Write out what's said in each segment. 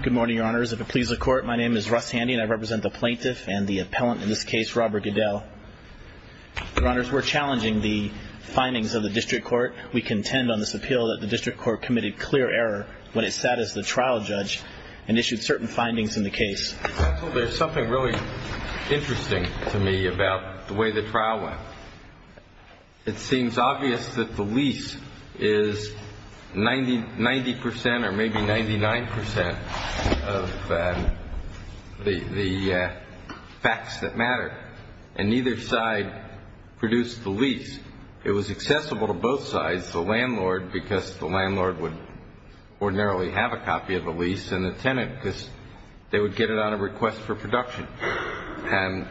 Good morning, Your Honors. If it pleases the Court, my name is Russ Handy and I represent the Plaintiff and the Appellant in this case, Robert Goodell. Your Honors, we're challenging the findings of the District Court. We contend on this appeal that the District Court committed clear error when it sat as the trial judge and issued certain findings in the case. There's something really interesting to me about the way the trial went. It seems obvious that the lease is 90% or maybe 99% of the facts that matter, and neither side produced the lease. It was accessible to both sides, the landlord, because the landlord would ordinarily have a copy of the lease, and the tenant because they would get it on a request for production. And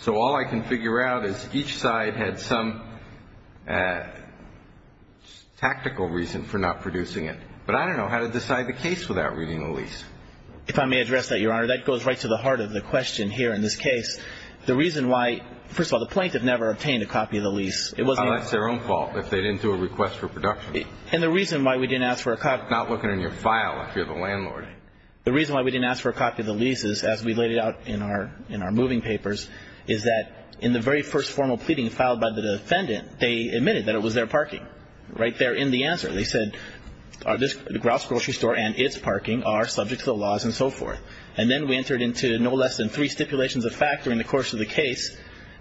so all I can figure out is each side had some tactical reason for not producing it. But I don't know how to decide the case without reading the lease. If I may address that, Your Honor, that goes right to the heart of the question here in this case. The reason why, first of all, the plaintiff never obtained a copy of the lease. Well, that's their own fault if they didn't do a request for production. And the reason why we didn't ask for a copy. Not looking in your file if you're the landlord. The reason why we didn't ask for a copy of the lease is, as we laid it out in our moving papers, is that in the very first formal pleading filed by the defendant, they admitted that it was their parking. But right there in the answer they said, Grouse Grocery Store and its parking are subject to the laws and so forth. And then we entered into no less than three stipulations of fact during the course of the case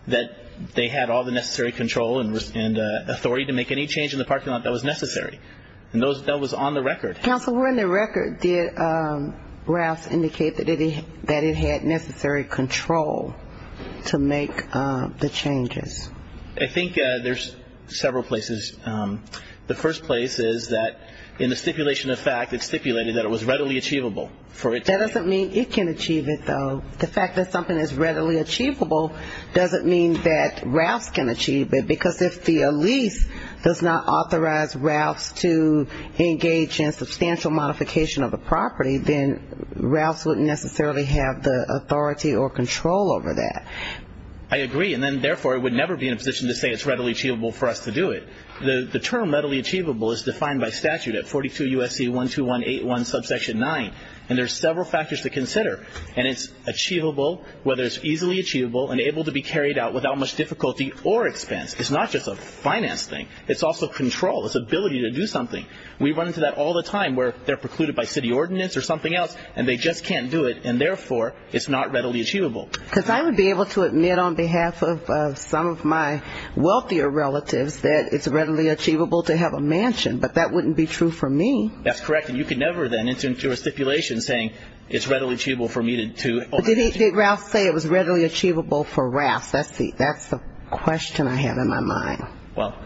that they had all the necessary control and authority to make any change in the parking lot that was necessary. And that was on the record. Counsel, where in the record did Grouse indicate that it had necessary control to make the changes? I think there's several places. The first place is that in the stipulation of fact, it stipulated that it was readily achievable. That doesn't mean it can achieve it, though. The fact that something is readily achievable doesn't mean that Ralphs can achieve it. Because if the lease does not authorize Ralphs to engage in substantial modification of the property, then Ralphs wouldn't necessarily have the authority or control over that. I agree. And then, therefore, I would never be in a position to say it's readily achievable for us to do it. The term readily achievable is defined by statute at 42 U.S.C. 12181 subsection 9. And there's several factors to consider. And it's achievable, whether it's easily achievable and able to be carried out without much difficulty or expense. It's not just a finance thing. It's also control. It's ability to do something. We run into that all the time where they're precluded by city ordinance or something else and they just can't do it. And, therefore, it's not readily achievable. Because I would be able to admit on behalf of some of my wealthier relatives that it's readily achievable to have a mansion. But that wouldn't be true for me. That's correct. And you could never then enter into a stipulation saying it's readily achievable for me to own a mansion. Did Ralph say it was readily achievable for Ralphs? That's the question I have in my mind. Well.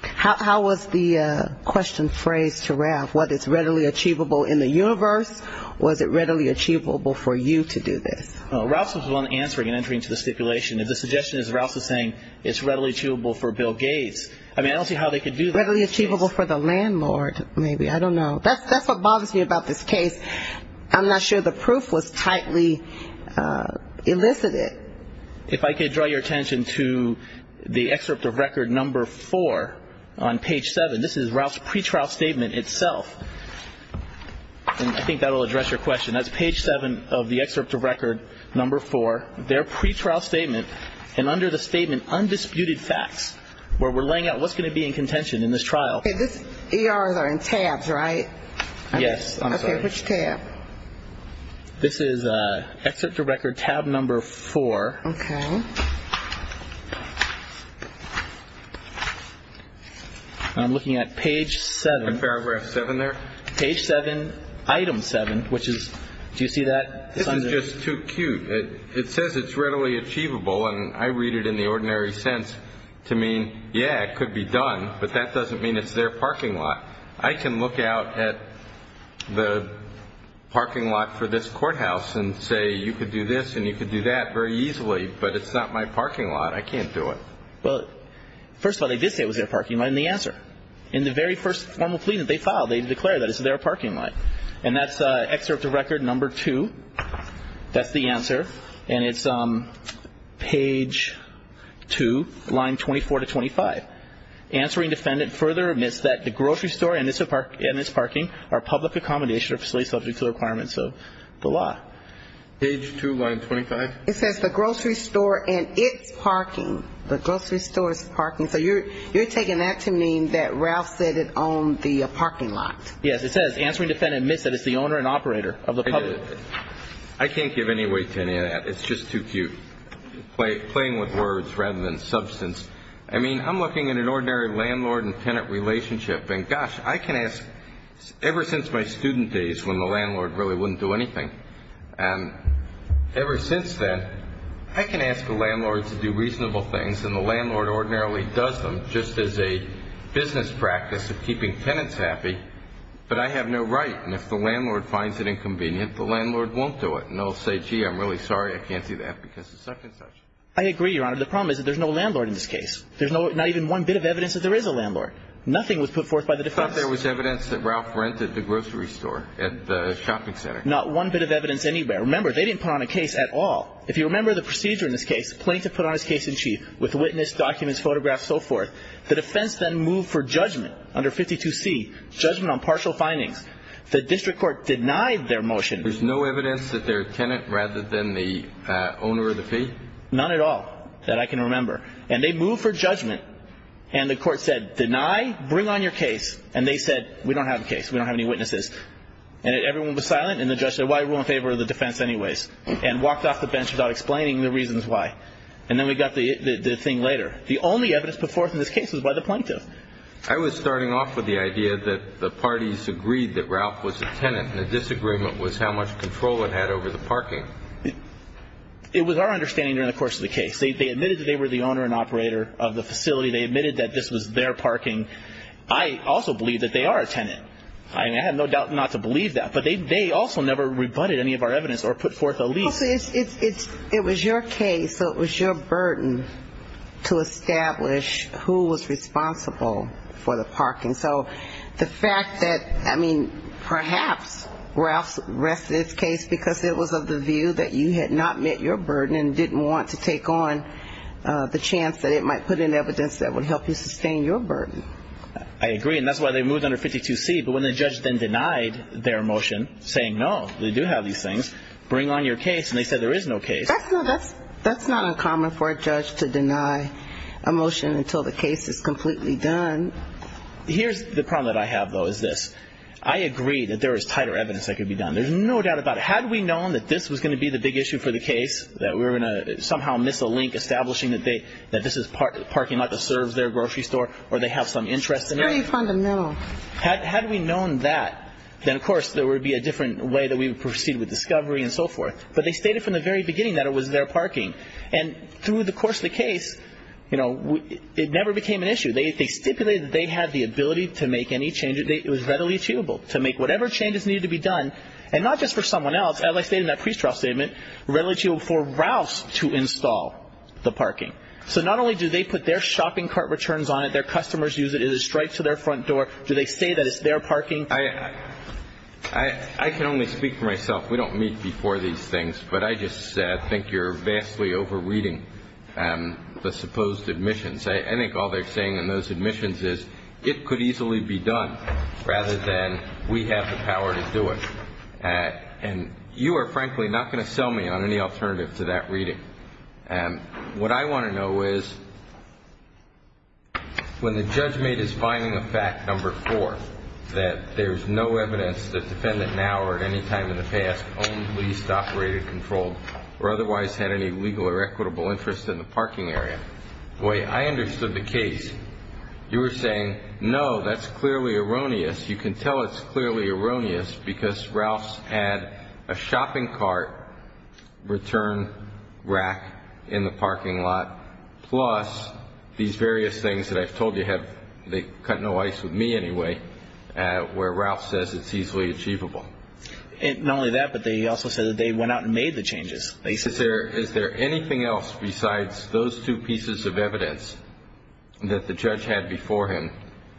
How was the question phrased to Ralph? Was it readily achievable in the universe? Was it readily achievable for you to do this? Ralph was the one answering and entering into the stipulation. The suggestion is Ralph was saying it's readily achievable for Bill Gates. I mean, I don't see how they could do that. Readily achievable for the landlord, maybe. I don't know. That's what bothers me about this case. I'm not sure the proof was tightly elicited. If I could draw your attention to the excerpt of record number four on page seven. This is Ralph's pretrial statement itself. And I think that will address your question. That's page seven of the excerpt of record number four. Their pretrial statement. And under the statement, undisputed facts, where we're laying out what's going to be in contention in this trial. Okay. These ERs are in tabs, right? Yes. Okay. Which tab? This is excerpt of record tab number four. Okay. I'm looking at page seven. Paragraph seven there. Page seven, item seven, which is, do you see that? This is just too cute. It says it's readily achievable, and I read it in the ordinary sense to mean, yeah, it could be done, but that doesn't mean it's their parking lot. I can look out at the parking lot for this courthouse and say you could do this and you could do that very easily, but it's not my parking lot. I can't do it. Well, first of all, they did say it was their parking lot in the answer. In the very first formal plea that they filed, they declared that it's their parking lot. And that's excerpt of record number two. That's the answer. And it's page two, line 24 to 25. Answering defendant further admits that the grocery store and its parking are public accommodation or facilities subject to the requirements of the law. Page two, line 25. It says the grocery store and its parking. The grocery store's parking. So you're taking that to mean that Ralph said it owned the parking lot. Yes, it says answering defendant admits that it's the owner and operator of the public. I can't give any weight to any of that. It's just too cute, playing with words rather than substance. I mean, I'm looking at an ordinary landlord and tenant relationship, and gosh, I can ask ever since my student days when the landlord really wouldn't do anything. And ever since then, I can ask the landlord to do reasonable things, and the landlord ordinarily does them just as a business practice of keeping tenants happy. But I have no right. And if the landlord finds it inconvenient, the landlord won't do it. And they'll say, gee, I'm really sorry, I can't do that because it's such and such. I agree, Your Honor. The problem is that there's no landlord in this case. There's not even one bit of evidence that there is a landlord. Nothing was put forth by the defense. But there was evidence that Ralph rented the grocery store at the shopping center. Not one bit of evidence anywhere. Remember, they didn't put on a case at all. If you remember the procedure in this case, plaintiff put on his case in chief with witness, documents, photographs, so forth. The defense then moved for judgment under 52C, judgment on partial findings. The district court denied their motion. There's no evidence that they're a tenant rather than the owner of the fee? None at all that I can remember. And they moved for judgment. And the court said, deny, bring on your case. And they said, we don't have a case. We don't have any witnesses. And everyone was silent. And the judge said, why are we in favor of the defense anyways? And walked off the bench without explaining the reasons why. And then we got the thing later. The only evidence put forth in this case was by the plaintiff. I was starting off with the idea that the parties agreed that Ralph was a tenant and the disagreement was how much control it had over the parking. It was our understanding during the course of the case. They admitted that they were the owner and operator of the facility. They admitted that this was their parking. I also believe that they are a tenant. I have no doubt not to believe that. But they also never rebutted any of our evidence or put forth a lease. It was your case, so it was your burden to establish who was responsible for the parking. So the fact that, I mean, perhaps Ralph rested his case because it was of the view that you had not met your burden and didn't want to take on the chance that it might put in evidence that would help you sustain your burden. I agree, and that's why they moved under 52C. But when the judge then denied their motion saying, no, they do have these things, bring on your case, and they said there is no case. That's not uncommon for a judge to deny a motion until the case is completely done. Here's the problem that I have, though, is this. I agree that there is tighter evidence that could be done. There's no doubt about it. Had we known that this was going to be the big issue for the case, that we were going to somehow miss a link establishing that this is parking and not to serve their grocery store or they have some interest in it. It's very fundamental. Had we known that, then, of course, there would be a different way that we would proceed with discovery and so forth. But they stated from the very beginning that it was their parking. And through the course of the case, you know, it never became an issue. They stipulated that they had the ability to make any changes. It was readily achievable to make whatever changes needed to be done, and not just for someone else. As I stated in that pre-straw statement, readily achievable for Ralph to install the parking. So not only do they put their shopping cart returns on it, their customers use it, it is a strike to their front door. Do they say that it's their parking? I can only speak for myself. We don't meet before these things. But I just think you're vastly over-reading the supposed admissions. I think all they're saying in those admissions is it could easily be done rather than we have the power to do it. And you are, frankly, not going to sell me on any alternative to that reading. What I want to know is when the judge made his finding of fact number four, that there's no evidence that defendant now or at any time in the past owned, leased, operated, controlled, or otherwise had any legal or equitable interest in the parking area, boy, I understood the case. You were saying, no, that's clearly erroneous. You can tell it's clearly erroneous because Ralph's had a shopping cart return rack in the parking lot, plus these various things that I've told you have cut no ice with me anyway, where Ralph says it's easily achievable. Not only that, but they also said that they went out and made the changes. Is there anything else besides those two pieces of evidence that the judge had before him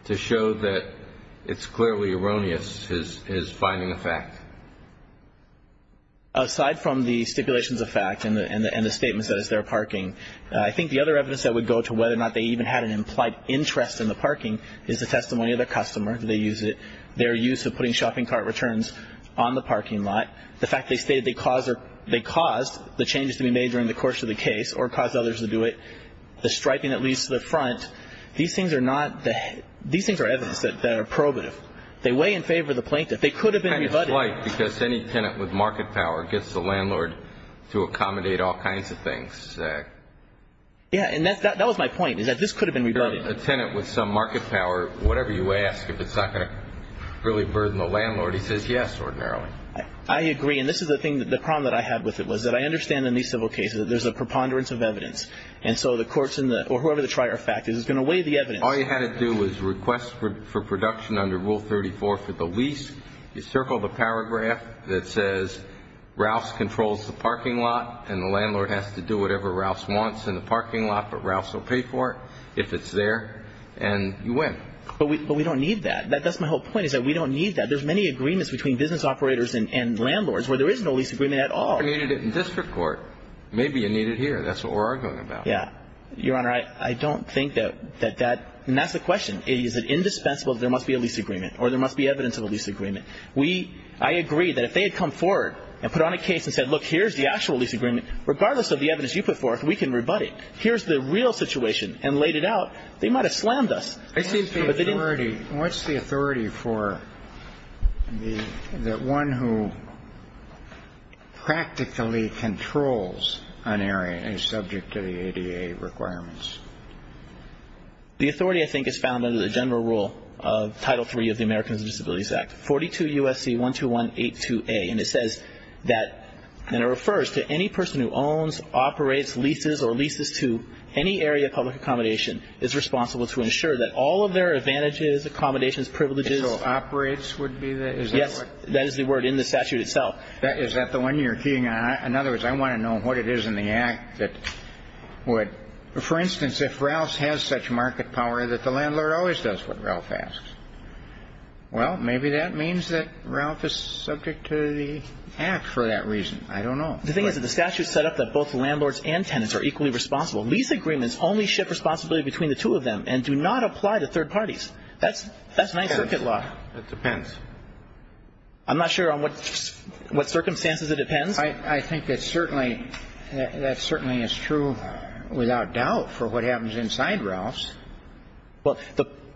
to show that it's clearly erroneous, his finding of fact? Aside from the stipulations of fact and the statements that it's their parking, I think the other evidence that would go to whether or not they even had an implied interest in the parking is the testimony of their customer. They use it. Their use of putting shopping cart returns on the parking lot. The fact they stated they caused the changes to be made during the course of the case or caused others to do it. The striping that leads to the front. These things are evidence that are probative. They weigh in favor of the plaintiff. They could have been rebutted. It's kind of slight because any tenant with market power gets the landlord to accommodate all kinds of things. Yeah, and that was my point, is that this could have been rebutted. A tenant with some market power, whatever you ask, if it's not going to really burden the landlord, he says yes ordinarily. I agree, and this is the problem that I have with it, was that I understand in these civil cases that there's a preponderance of evidence. And so the courts or whoever the trier of fact is is going to weigh the evidence. All you had to do was request for production under Rule 34 for the lease. You circle the paragraph that says Rouse controls the parking lot and the landlord has to do whatever Rouse wants in the parking lot, but Rouse will pay for it if it's there, and you win. But we don't need that. That's my whole point, is that we don't need that. There's many agreements between business operators and landlords where there is no lease agreement at all. If you needed it in district court, maybe you need it here. That's what we're arguing about. Yeah. Your Honor, I don't think that that's the question. Is it indispensable that there must be a lease agreement or there must be evidence of a lease agreement? We – I agree that if they had come forward and put on a case and said, look, here's the actual lease agreement, regardless of the evidence you put forth, we can rebut it. Here's the real situation, and laid it out, they might have slammed us. What's the authority for the one who practically controls an area and is subject to the ADA requirements? The authority, I think, is found under the general rule of Title III of the Americans with Disabilities Act, 42 U.S.C. 12182a, and it says that – and it refers to any person who owns, operates, leases, or leases to any area of public accommodation is responsible to ensure that all of their advantages, accommodations, privileges – So operates would be the – is that what – Yes. That is the word in the statute itself. Is that the one you're keying on? In other words, I want to know what it is in the Act that would – for instance, if Ralph has such market power that the landlord always does what Ralph asks, well, maybe that means that Ralph is subject to the Act for that reason. I don't know. The thing is that the statute set up that both landlords and tenants are equally responsible. Lease agreements only shift responsibility between the two of them and do not apply to third parties. That's Ninth Circuit law. It depends. I'm not sure on what circumstances it depends. I think that certainly is true without doubt for what happens inside Ralph's. Well,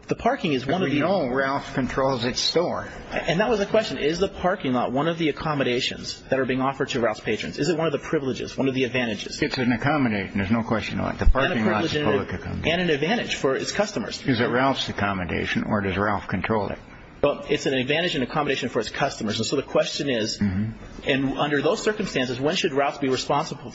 the parking is one of the – And we know Ralph controls its store. And that was the question. Is the parking lot one of the accommodations that are being offered to Ralph's patrons? Is it one of the privileges, one of the advantages? It's an accommodation. There's no question about it. The parking lot is a public accommodation. And an advantage for its customers. Is it Ralph's accommodation or does Ralph control it? Well, it's an advantage and accommodation for its customers. And so the question is, under those circumstances, when should Ralph be responsible?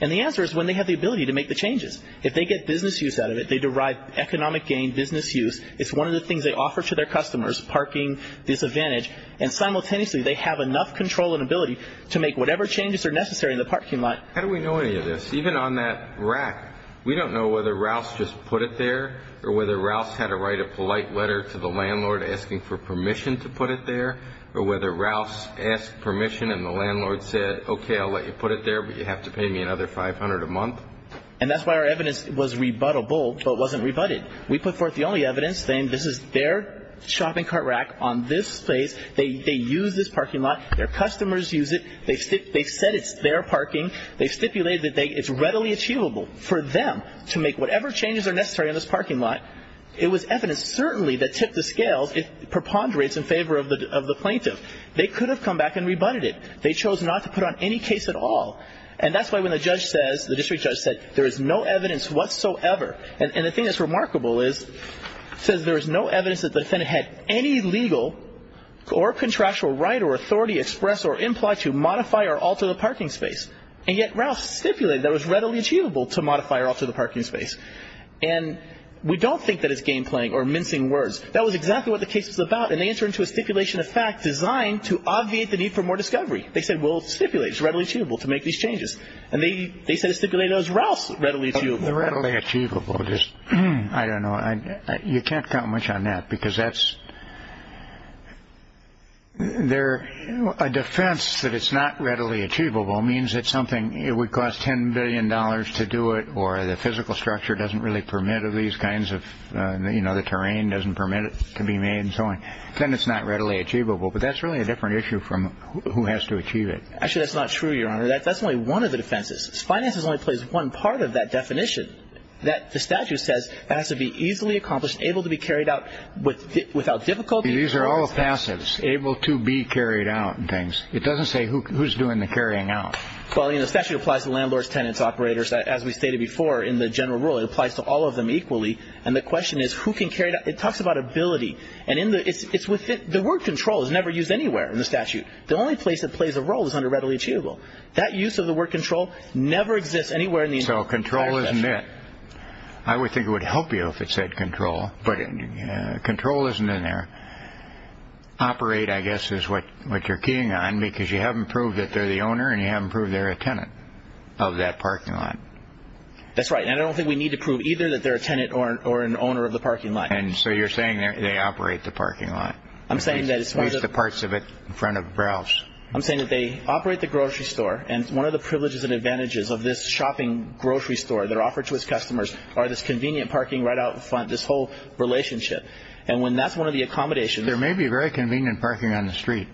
And the answer is when they have the ability to make the changes. If they get business use out of it, they derive economic gain, business use. It's one of the things they offer to their customers, parking, disadvantage. And simultaneously, they have enough control and ability to make whatever changes are necessary in the parking lot. How do we know any of this? Even on that rack, we don't know whether Ralph just put it there or whether Ralph had to write a polite letter to the landlord asking for permission to put it there or whether Ralph asked permission and the landlord said, okay, I'll let you put it there, but you have to pay me another $500 a month. And that's why our evidence was rebuttable but wasn't rebutted. We put forth the only evidence saying this is their shopping cart rack on this space. They use this parking lot. Their customers use it. They said it's their parking. They stipulated that it's readily achievable for them to make whatever changes are necessary on this parking lot. It was evidence certainly that tipped the scales. It preponderates in favor of the plaintiff. They could have come back and rebutted it. They chose not to put on any case at all. And that's why when the judge says, the district judge said, there is no evidence whatsoever. And the thing that's remarkable is it says there is no evidence that the defendant had any legal or contractual right or authority expressed or implied to modify or alter the parking space. And yet Ralph stipulated that it was readily achievable to modify or alter the parking space. And we don't think that it's game playing or mincing words. That was exactly what the case was about. And they entered into a stipulation of fact designed to obviate the need for more discovery. They said, well, stipulate, it's readily achievable to make these changes. And they said it stipulated it was Ralph's readily achievable. The readily achievable, just, I don't know. You can't count much on that because that's, there, a defense that it's not readily achievable means it's something, it would cost $10 billion to do it or the physical structure doesn't really permit these kinds of, you know, the terrain doesn't permit it to be made and so on. Then it's not readily achievable. But that's really a different issue from who has to achieve it. Actually, that's not true, Your Honor. That's only one of the defenses. Finances only plays one part of that definition that the statute says has to be easily accomplished, able to be carried out without difficulty. These are all passives, able to be carried out and things. It doesn't say who's doing the carrying out. Well, you know, the statute applies to landlords, tenants, operators. As we stated before in the general rule, it applies to all of them equally. And the question is who can carry it out. It talks about ability. And in the, it's within, the word control is never used anywhere in the statute. The only place it plays a role is under readily achievable. That use of the word control never exists anywhere in the entire statute. So control isn't it. I would think it would help you if it said control. But control isn't in there. Operate, I guess, is what you're keying on because you haven't proved that they're the owner and you haven't proved they're a tenant of that parking lot. That's right. And I don't think we need to prove either that they're a tenant or an owner of the parking lot. And so you're saying they operate the parking lot. I'm saying that it's part of the. At least the parts of it in front of the browse. I'm saying that they operate the grocery store. And one of the privileges and advantages of this shopping grocery store that are offered to its customers are this convenient parking right out in front, this whole relationship. And when that's one of the accommodations. There may be very convenient parking on the street.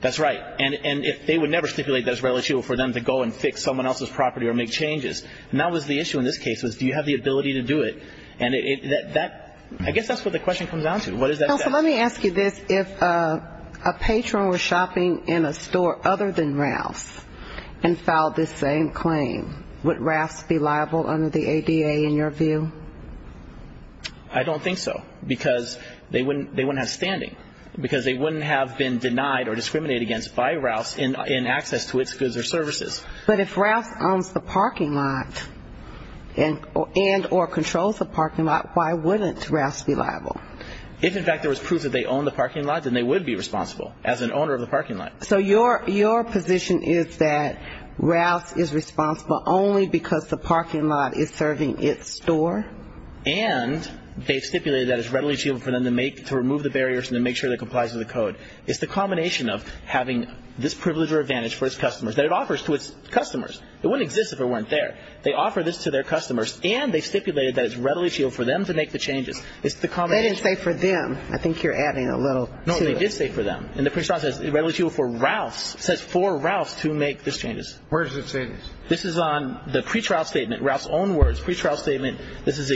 That's right. And they would never stipulate that it's readily achievable for them to go and fix someone else's property or make changes. And that was the issue in this case was do you have the ability to do it. And that, I guess that's what the question comes down to. What does that say? Counsel, let me ask you this. If a patron were shopping in a store other than Ralph's and filed this same claim, would Ralph's be liable under the ADA in your view? I don't think so. Because they wouldn't have standing. Because they wouldn't have been denied or discriminated against by Ralph's in access to its goods or services. But if Ralph's owns the parking lot and or controls the parking lot, why wouldn't Ralph's be liable? If, in fact, there was proof that they own the parking lot, then they would be responsible as an owner of the parking lot. So your position is that Ralph's is responsible only because the parking lot is serving its store? And they've stipulated that it's readily achievable for them to remove the barriers and to make sure it complies with the code. It's the combination of having this privilege or advantage for its customers that it offers to its customers. It wouldn't exist if it weren't there. They offer this to their customers, and they've stipulated that it's readily achievable for them to make the changes. It's the combination. They didn't say for them. I think you're adding a little to it. No, they did say for them. And the pretrial says it's readily achievable for Ralph's. It says for Ralph's to make these changes. Where does it say this? This is on the pretrial statement, Ralph's own words, pretrial statement. This is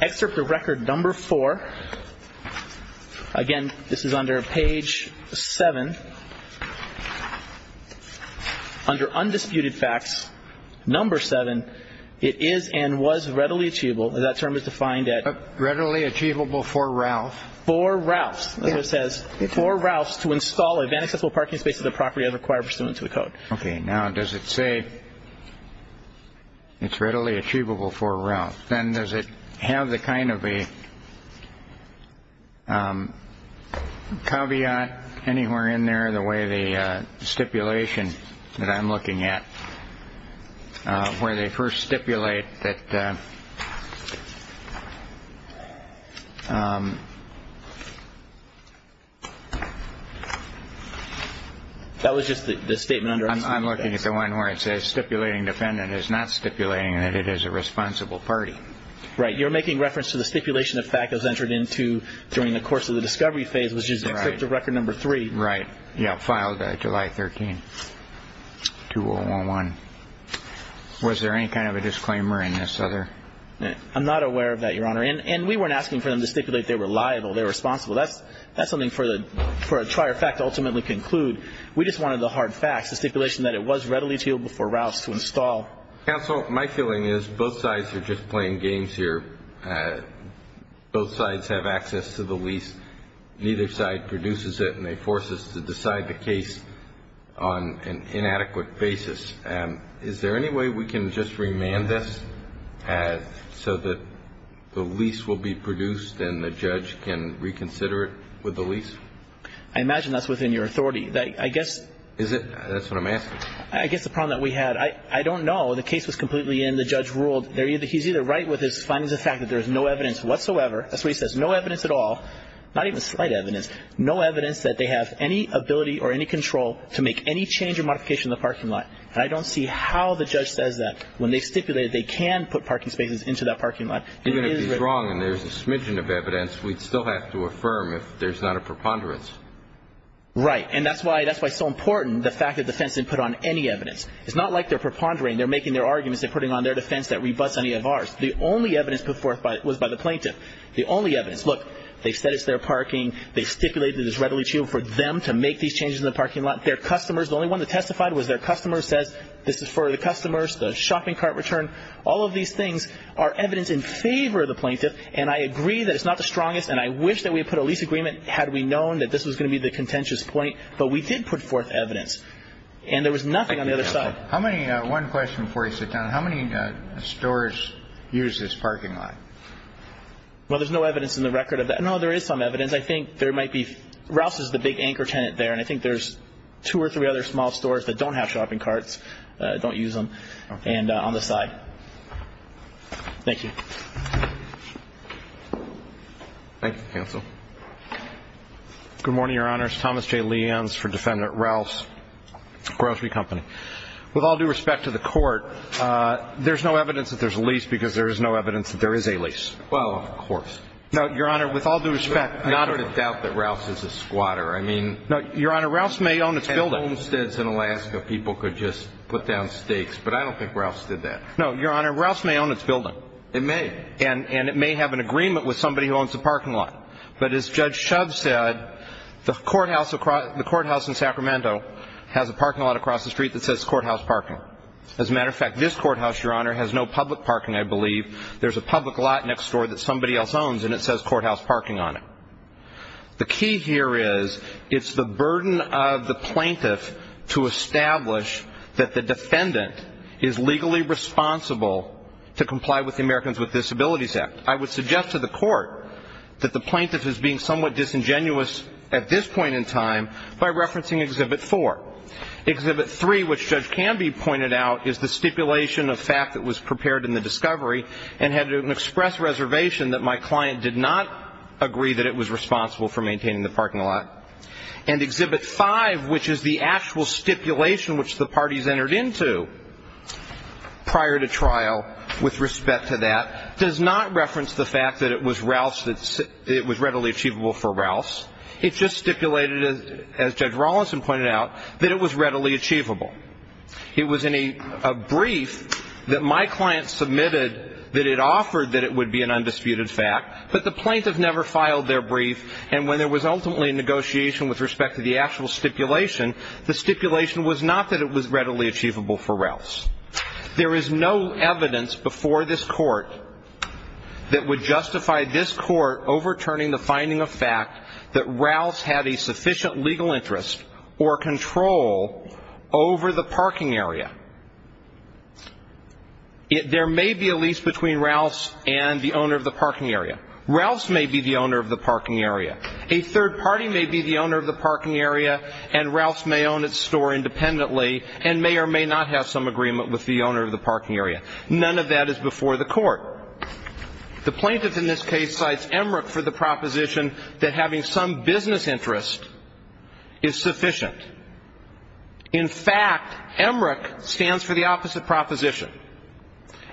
excerpt of record number four. Again, this is under page seven. Under undisputed facts, number seven, it is and was readily achievable. That term is defined at. Readily achievable for Ralph. For Ralph's. That's what it says. For Ralph's to install an inaccessible parking space to the property as required pursuant to the code. Okay. Now, does it say it's readily achievable for Ralph's? Then does it have the kind of a caveat anywhere in there the way the stipulation that I'm looking at, where they first stipulate that. That was just the statement. I'm looking at the one where it says stipulating defendant is not stipulating that it is a responsible party. Right. You're making reference to the stipulation of fact that was entered into during the course of the discovery phase, which is the record number three. Right. Yeah. Filed July 13th, 2001. Was there any kind of a disclaimer in this other? I'm not aware of that, Your Honor. And we weren't asking for them to stipulate they were liable, they were responsible. That's something for a trier fact to ultimately conclude. We just wanted the hard facts, the stipulation that it was readily achievable for Ralph's to install. Counsel, my feeling is both sides are just playing games here. Both sides have access to the lease. Neither side produces it, and they force us to decide the case on an inadequate basis. Is there any way we can just remand this so that the lease will be produced and the judge can reconsider it with the lease? I imagine that's within your authority. I guess. Is it? That's what I'm asking. I guess the problem that we had, I don't know. The case was completely in. The judge ruled. He's either right with his findings of fact that there's no evidence whatsoever. That's why he says no evidence at all, not even slight evidence, no evidence that they have any ability or any control to make any change or modification in the parking lot. And I don't see how the judge says that when they stipulated they can put parking spaces into that parking lot. Even if he's wrong and there's a smidgen of evidence, we'd still have to affirm if there's not a preponderance. Right. And that's why it's so important, the fact that the defense didn't put on any evidence. It's not like they're prepondering. They're making their arguments. They're putting on their defense that rebuts any of ours. The only evidence put forth was by the plaintiff. The only evidence. Look, they said it's their parking. They stipulated it's readily achievable for them to make these changes in the parking lot. Their customers, the only one that testified was their customer, says this is for the customers, the shopping cart return. All of these things are evidence in favor of the plaintiff, and I agree that it's not the strongest, and I wish that we had put a lease agreement had we known that this was going to be the contentious point, but we did put forth evidence, and there was nothing on the other side. One question before you sit down. How many stores use this parking lot? Well, there's no evidence in the record of that. No, there is some evidence. I think there might be – Rouse is the big anchor tenant there, and I think there's two or three other small stores that don't have shopping carts, don't use them, and on the side. Thank you. Thank you, counsel. Good morning, Your Honor. It's Thomas J. Leans for Defendant Rouse, Grocery Company. With all due respect to the Court, there's no evidence that there's a lease because there is no evidence that there is a lease. Well, of course. No, Your Honor, with all due respect, not – I sort of doubt that Rouse is a squatter. I mean – No, Your Honor, Rouse may own its building. Homesteads in Alaska, people could just put down stakes, but I don't think Rouse did that. No, Your Honor, Rouse may own its building. It may. And it may have an agreement with somebody who owns the parking lot. But as Judge Shub said, the courthouse in Sacramento has a parking lot across the street that says courthouse parking. As a matter of fact, this courthouse, Your Honor, has no public parking, I believe. There's a public lot next door that somebody else owns, and it says courthouse parking on it. The key here is it's the burden of the plaintiff to establish that the defendant is legally responsible to comply with the Americans with Disabilities Act. I would suggest to the Court that the plaintiff is being somewhat disingenuous at this point in time by referencing Exhibit 4. Exhibit 3, which Judge Canby pointed out, is the stipulation of fact that was prepared in the discovery and had an express reservation that my client did not agree that it was responsible for maintaining the parking lot. And Exhibit 5, which is the actual stipulation which the parties entered into prior to trial with respect to that, does not reference the fact that it was Rouse that it was readily achievable for Rouse. It just stipulated, as Judge Rawlinson pointed out, that it was readily achievable. It was in a brief that my client submitted that it offered that it would be an undisputed fact, but the plaintiff never filed their brief, and when there was ultimately a negotiation with respect to the actual stipulation, the stipulation was not that it was readily achievable for Rouse. There is no evidence before this Court that would justify this Court overturning the finding of fact that Rouse had a sufficient legal interest or control over the parking area. There may be a lease between Rouse and the owner of the parking area. Rouse may be the owner of the parking area. A third party may be the owner of the parking area, and Rouse may own its store independently and may or may not have some agreement with the owner of the parking area. None of that is before the Court. The plaintiff in this case cites EMRIC for the proposition that having some business interest is sufficient. In fact, EMRIC stands for the opposite proposition.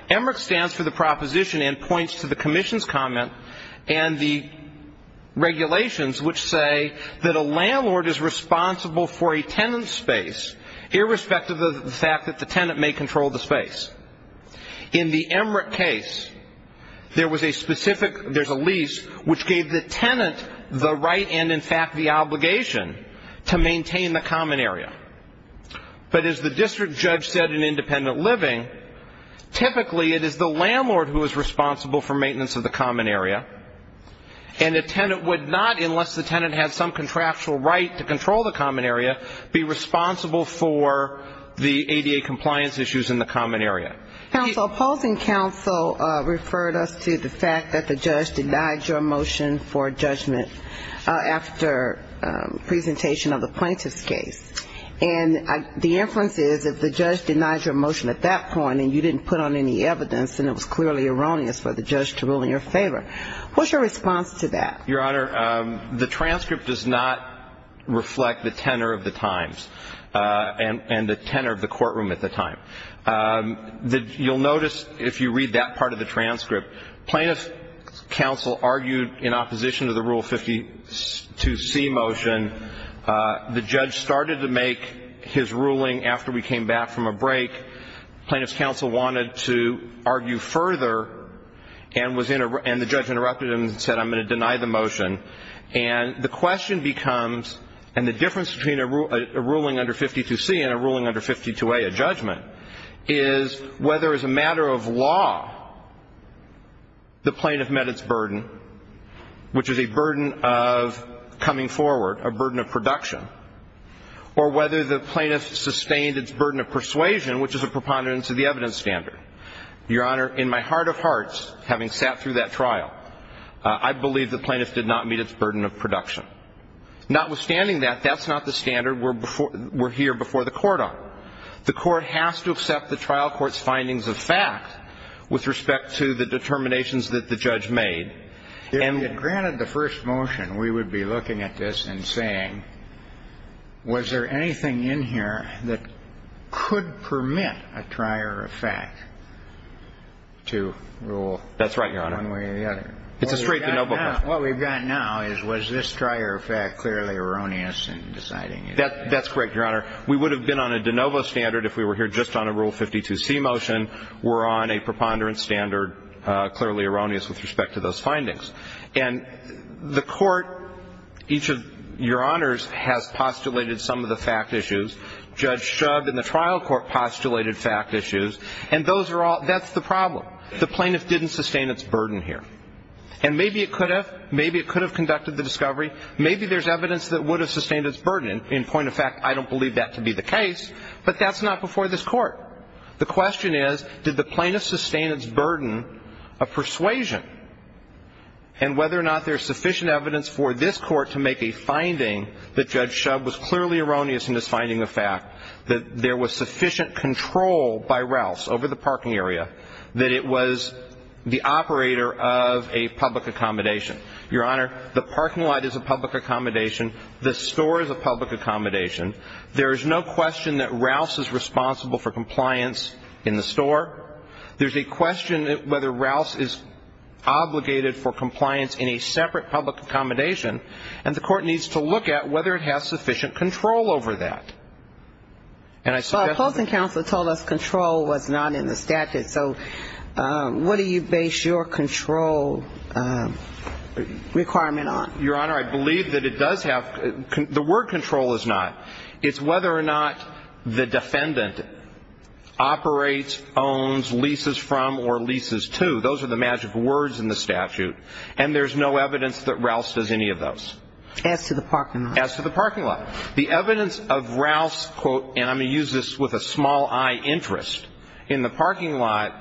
EMRIC stands for the proposition and points to the Commission's comment and the regulations which say that a landlord is responsible for a tenant's space, irrespective of the fact that the tenant may control the space. In the EMRIC case, there's a lease which gave the tenant the right and, in fact, the obligation to maintain the common area. But as the district judge said in Independent Living, typically it is the landlord who is responsible for maintenance of the common area, and the tenant would not, unless the tenant had some contractual right to control the common area, be responsible for the ADA compliance issues in the common area. Counsel, opposing counsel referred us to the fact that the judge denied your motion for judgment after presentation of the plaintiff's case. And the inference is if the judge denied your motion at that point and you didn't put on any evidence and it was clearly erroneous for the judge to rule in your favor, what's your response to that? Your Honor, the transcript does not reflect the tenor of the times and the tenor of the courtroom at the time. You'll notice if you read that part of the transcript, plaintiff's counsel argued in opposition to the Rule 52C motion. The judge started to make his ruling after we came back from a break. Plaintiff's counsel wanted to argue further and the judge interrupted him and said, I'm going to deny the motion, and the question becomes, and the difference between a ruling under 52C and a ruling under 52A, a judgment, is whether as a matter of law the plaintiff met its burden, which is a burden of coming forward, a burden of production, or whether the plaintiff sustained its burden of persuasion, which is a preponderance of the evidence standard. Your Honor, in my heart of hearts, having sat through that trial, I believe the plaintiff did not meet its burden of production. Notwithstanding that, that's not the standard we're here before the Court on. The Court has to accept the trial court's findings of fact with respect to the determinations that the judge made. And granted the first motion, we would be looking at this and saying, was there anything in here that could permit a trier of fact to rule one way or the other? That's right, Your Honor. It's a straight de novo question. What we've got now is, was this trier of fact clearly erroneous in deciding it? That's correct, Your Honor. We would have been on a de novo standard if we were here just on a Rule 52C motion. We're on a preponderance standard, clearly erroneous with respect to those findings. And the Court, each of Your Honors, has postulated some of the fact issues. Judge Shub and the trial court postulated fact issues. And those are all – that's the problem. The plaintiff didn't sustain its burden here. And maybe it could have. Maybe it could have conducted the discovery. Maybe there's evidence that would have sustained its burden. In point of fact, I don't believe that to be the case. But that's not before this Court. The question is, did the plaintiff sustain its burden of persuasion? And whether or not there's sufficient evidence for this Court to make a finding that Judge Shub was clearly erroneous in his finding of fact, that there was sufficient control by Rouse over the parking area, that it was the operator of a public accommodation. Your Honor, the parking lot is a public accommodation. The store is a public accommodation. There is no question that Rouse is responsible for compliance in the store. There's a question whether Rouse is obligated for compliance in a separate public accommodation. And the Court needs to look at whether it has sufficient control over that. Well, opposing counsel told us control was not in the statute. So what do you base your control requirement on? Your Honor, I believe that it does have – the word control is not. It's whether or not the defendant operates, owns, leases from, or leases to. Those are the magic words in the statute. And there's no evidence that Rouse does any of those. As to the parking lot. As to the parking lot. The evidence of Rouse, and I'm going to use this with a small-I interest, in the parking lot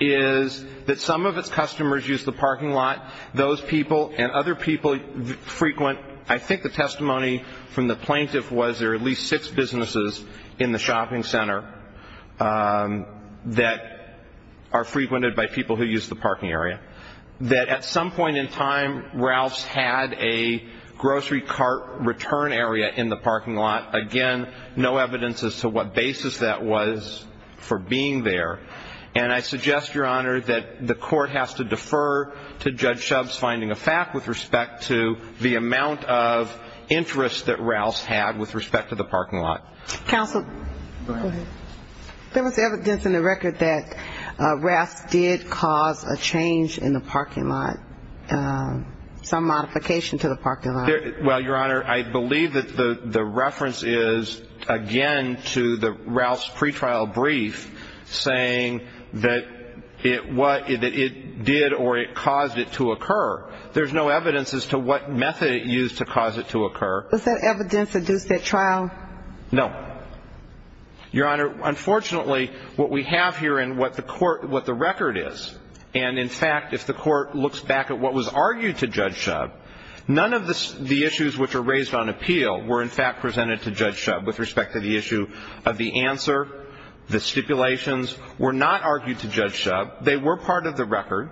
is that some of its customers use the parking lot. Those people and other people frequent – I think the testimony from the plaintiff was there are at least six businesses in the shopping center that are frequented by people who use the parking area. That at some point in time, Rouse had a grocery cart return area in the parking lot. Again, no evidence as to what basis that was for being there. And I suggest, Your Honor, that the court has to defer to Judge Shub's finding of fact with respect to the amount of interest that Rouse had with respect to the parking lot. Counsel, go ahead. There was evidence in the record that Rouse did cause a change in the parking lot, some modification to the parking lot. Well, Your Honor, I believe that the reference is, again, to the Rouse pretrial brief, saying that it did or it caused it to occur. There's no evidence as to what method it used to cause it to occur. Does that evidence adduce that trial? No. Your Honor, unfortunately, what we have here and what the record is, and in fact if the court looks back at what was argued to Judge Shub, none of the issues which are raised on appeal were in fact presented to Judge Shub with respect to the issue of the answer. The stipulations were not argued to Judge Shub. They were part of the record.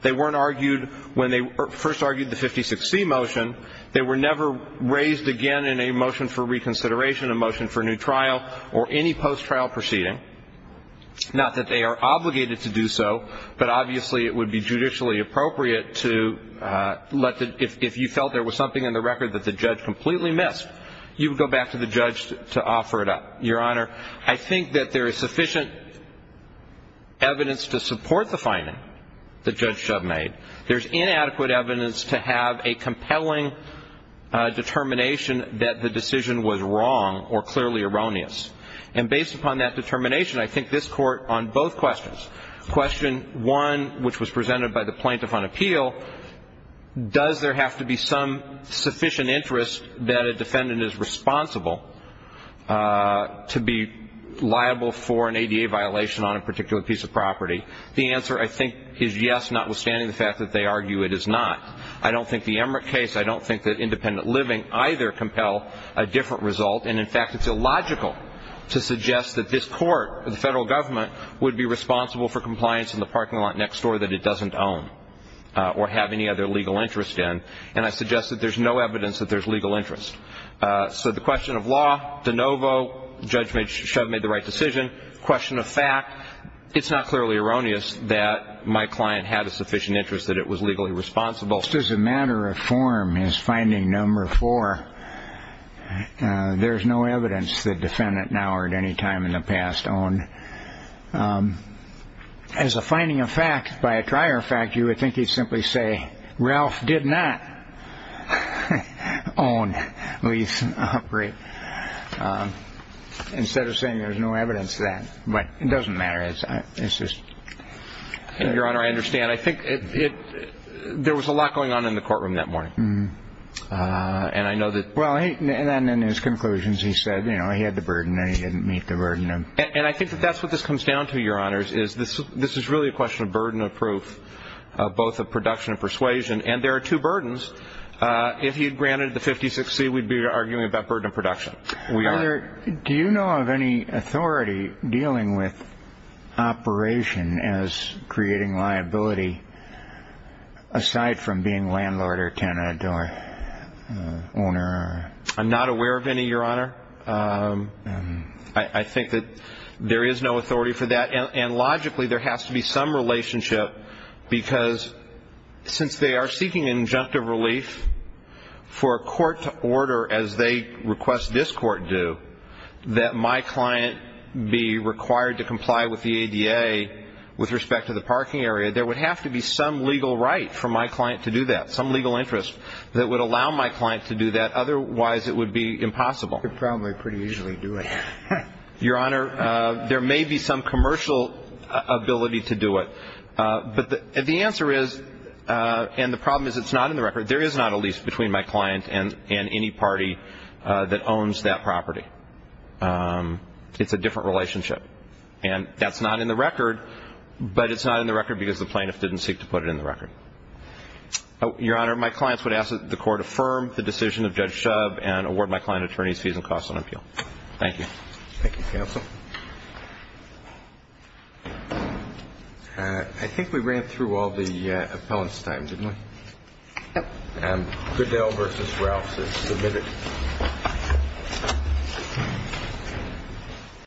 They weren't argued when they first argued the 56C motion. They were never raised again in a motion for reconsideration, a motion for new trial, or any post-trial proceeding. Not that they are obligated to do so, but obviously it would be judicially appropriate to let the ‑‑ if you felt there was something in the record that the judge completely missed, you would go back to the judge to offer it up. Your Honor, I think that there is sufficient evidence to support the finding that Judge Shub made. There's inadequate evidence to have a compelling determination that the decision was wrong or clearly erroneous. And based upon that determination, I think this Court on both questions, question one, which was presented by the plaintiff on appeal, does there have to be some sufficient interest that a defendant is responsible to be liable for an ADA violation on a particular piece of property? The answer, I think, is yes, notwithstanding the fact that they argue it is not. I don't think the Emmerich case, I don't think that independent living either compel a different result. And in fact, it's illogical to suggest that this Court, the federal government, would be responsible for compliance in the parking lot next door that it doesn't own or have any other legal interest in. And I suggest that there's no evidence that there's legal interest. So the question of law, de novo, Judge Shub made the right decision. Question of fact, it's not clearly erroneous that my client had a sufficient interest that it was legally responsible. Just as a matter of form, as finding number four, there's no evidence the defendant, now or at any time in the past, owned. As a finding of fact, by a trier of fact, you would think he'd simply say, Ralph did not own Lee's upgrade, instead of saying there's no evidence of that. But it doesn't matter. Your Honor, I understand. I think there was a lot going on in the courtroom that morning. And I know that... Well, and then in his conclusions, he said, you know, he had the burden and he didn't meet the burden. And I think that that's what this comes down to, Your Honors, is this is really a question of burden of proof, both of production and persuasion. And there are two burdens. If he had granted the 56C, we'd be arguing about burden of production. We are. Your Honor, do you know of any authority dealing with operation as creating liability, aside from being landlord or tenant or owner? I'm not aware of any, Your Honor. I think that there is no authority for that. And logically, there has to be some relationship, because since they are seeking injunctive relief for a court to order, as they request this court do, that my client be required to comply with the ADA with respect to the parking area, there would have to be some legal right for my client to do that, some legal interest that would allow my client to do that. Otherwise, it would be impossible. They probably pretty easily do it. Your Honor, there may be some commercial ability to do it. But the answer is, and the problem is it's not in the record, there is not a lease between my client and any party that owns that property. It's a different relationship. And that's not in the record, but it's not in the record because the plaintiff didn't seek to put it in the record. Your Honor, my clients would ask that the court affirm the decision of Judge Shub and award my client attorney's fees and costs on appeal. Thank you. Thank you, counsel. I think we ran through all the appellants' times, didn't we? Yep. Goodell v. Rouse is submitted.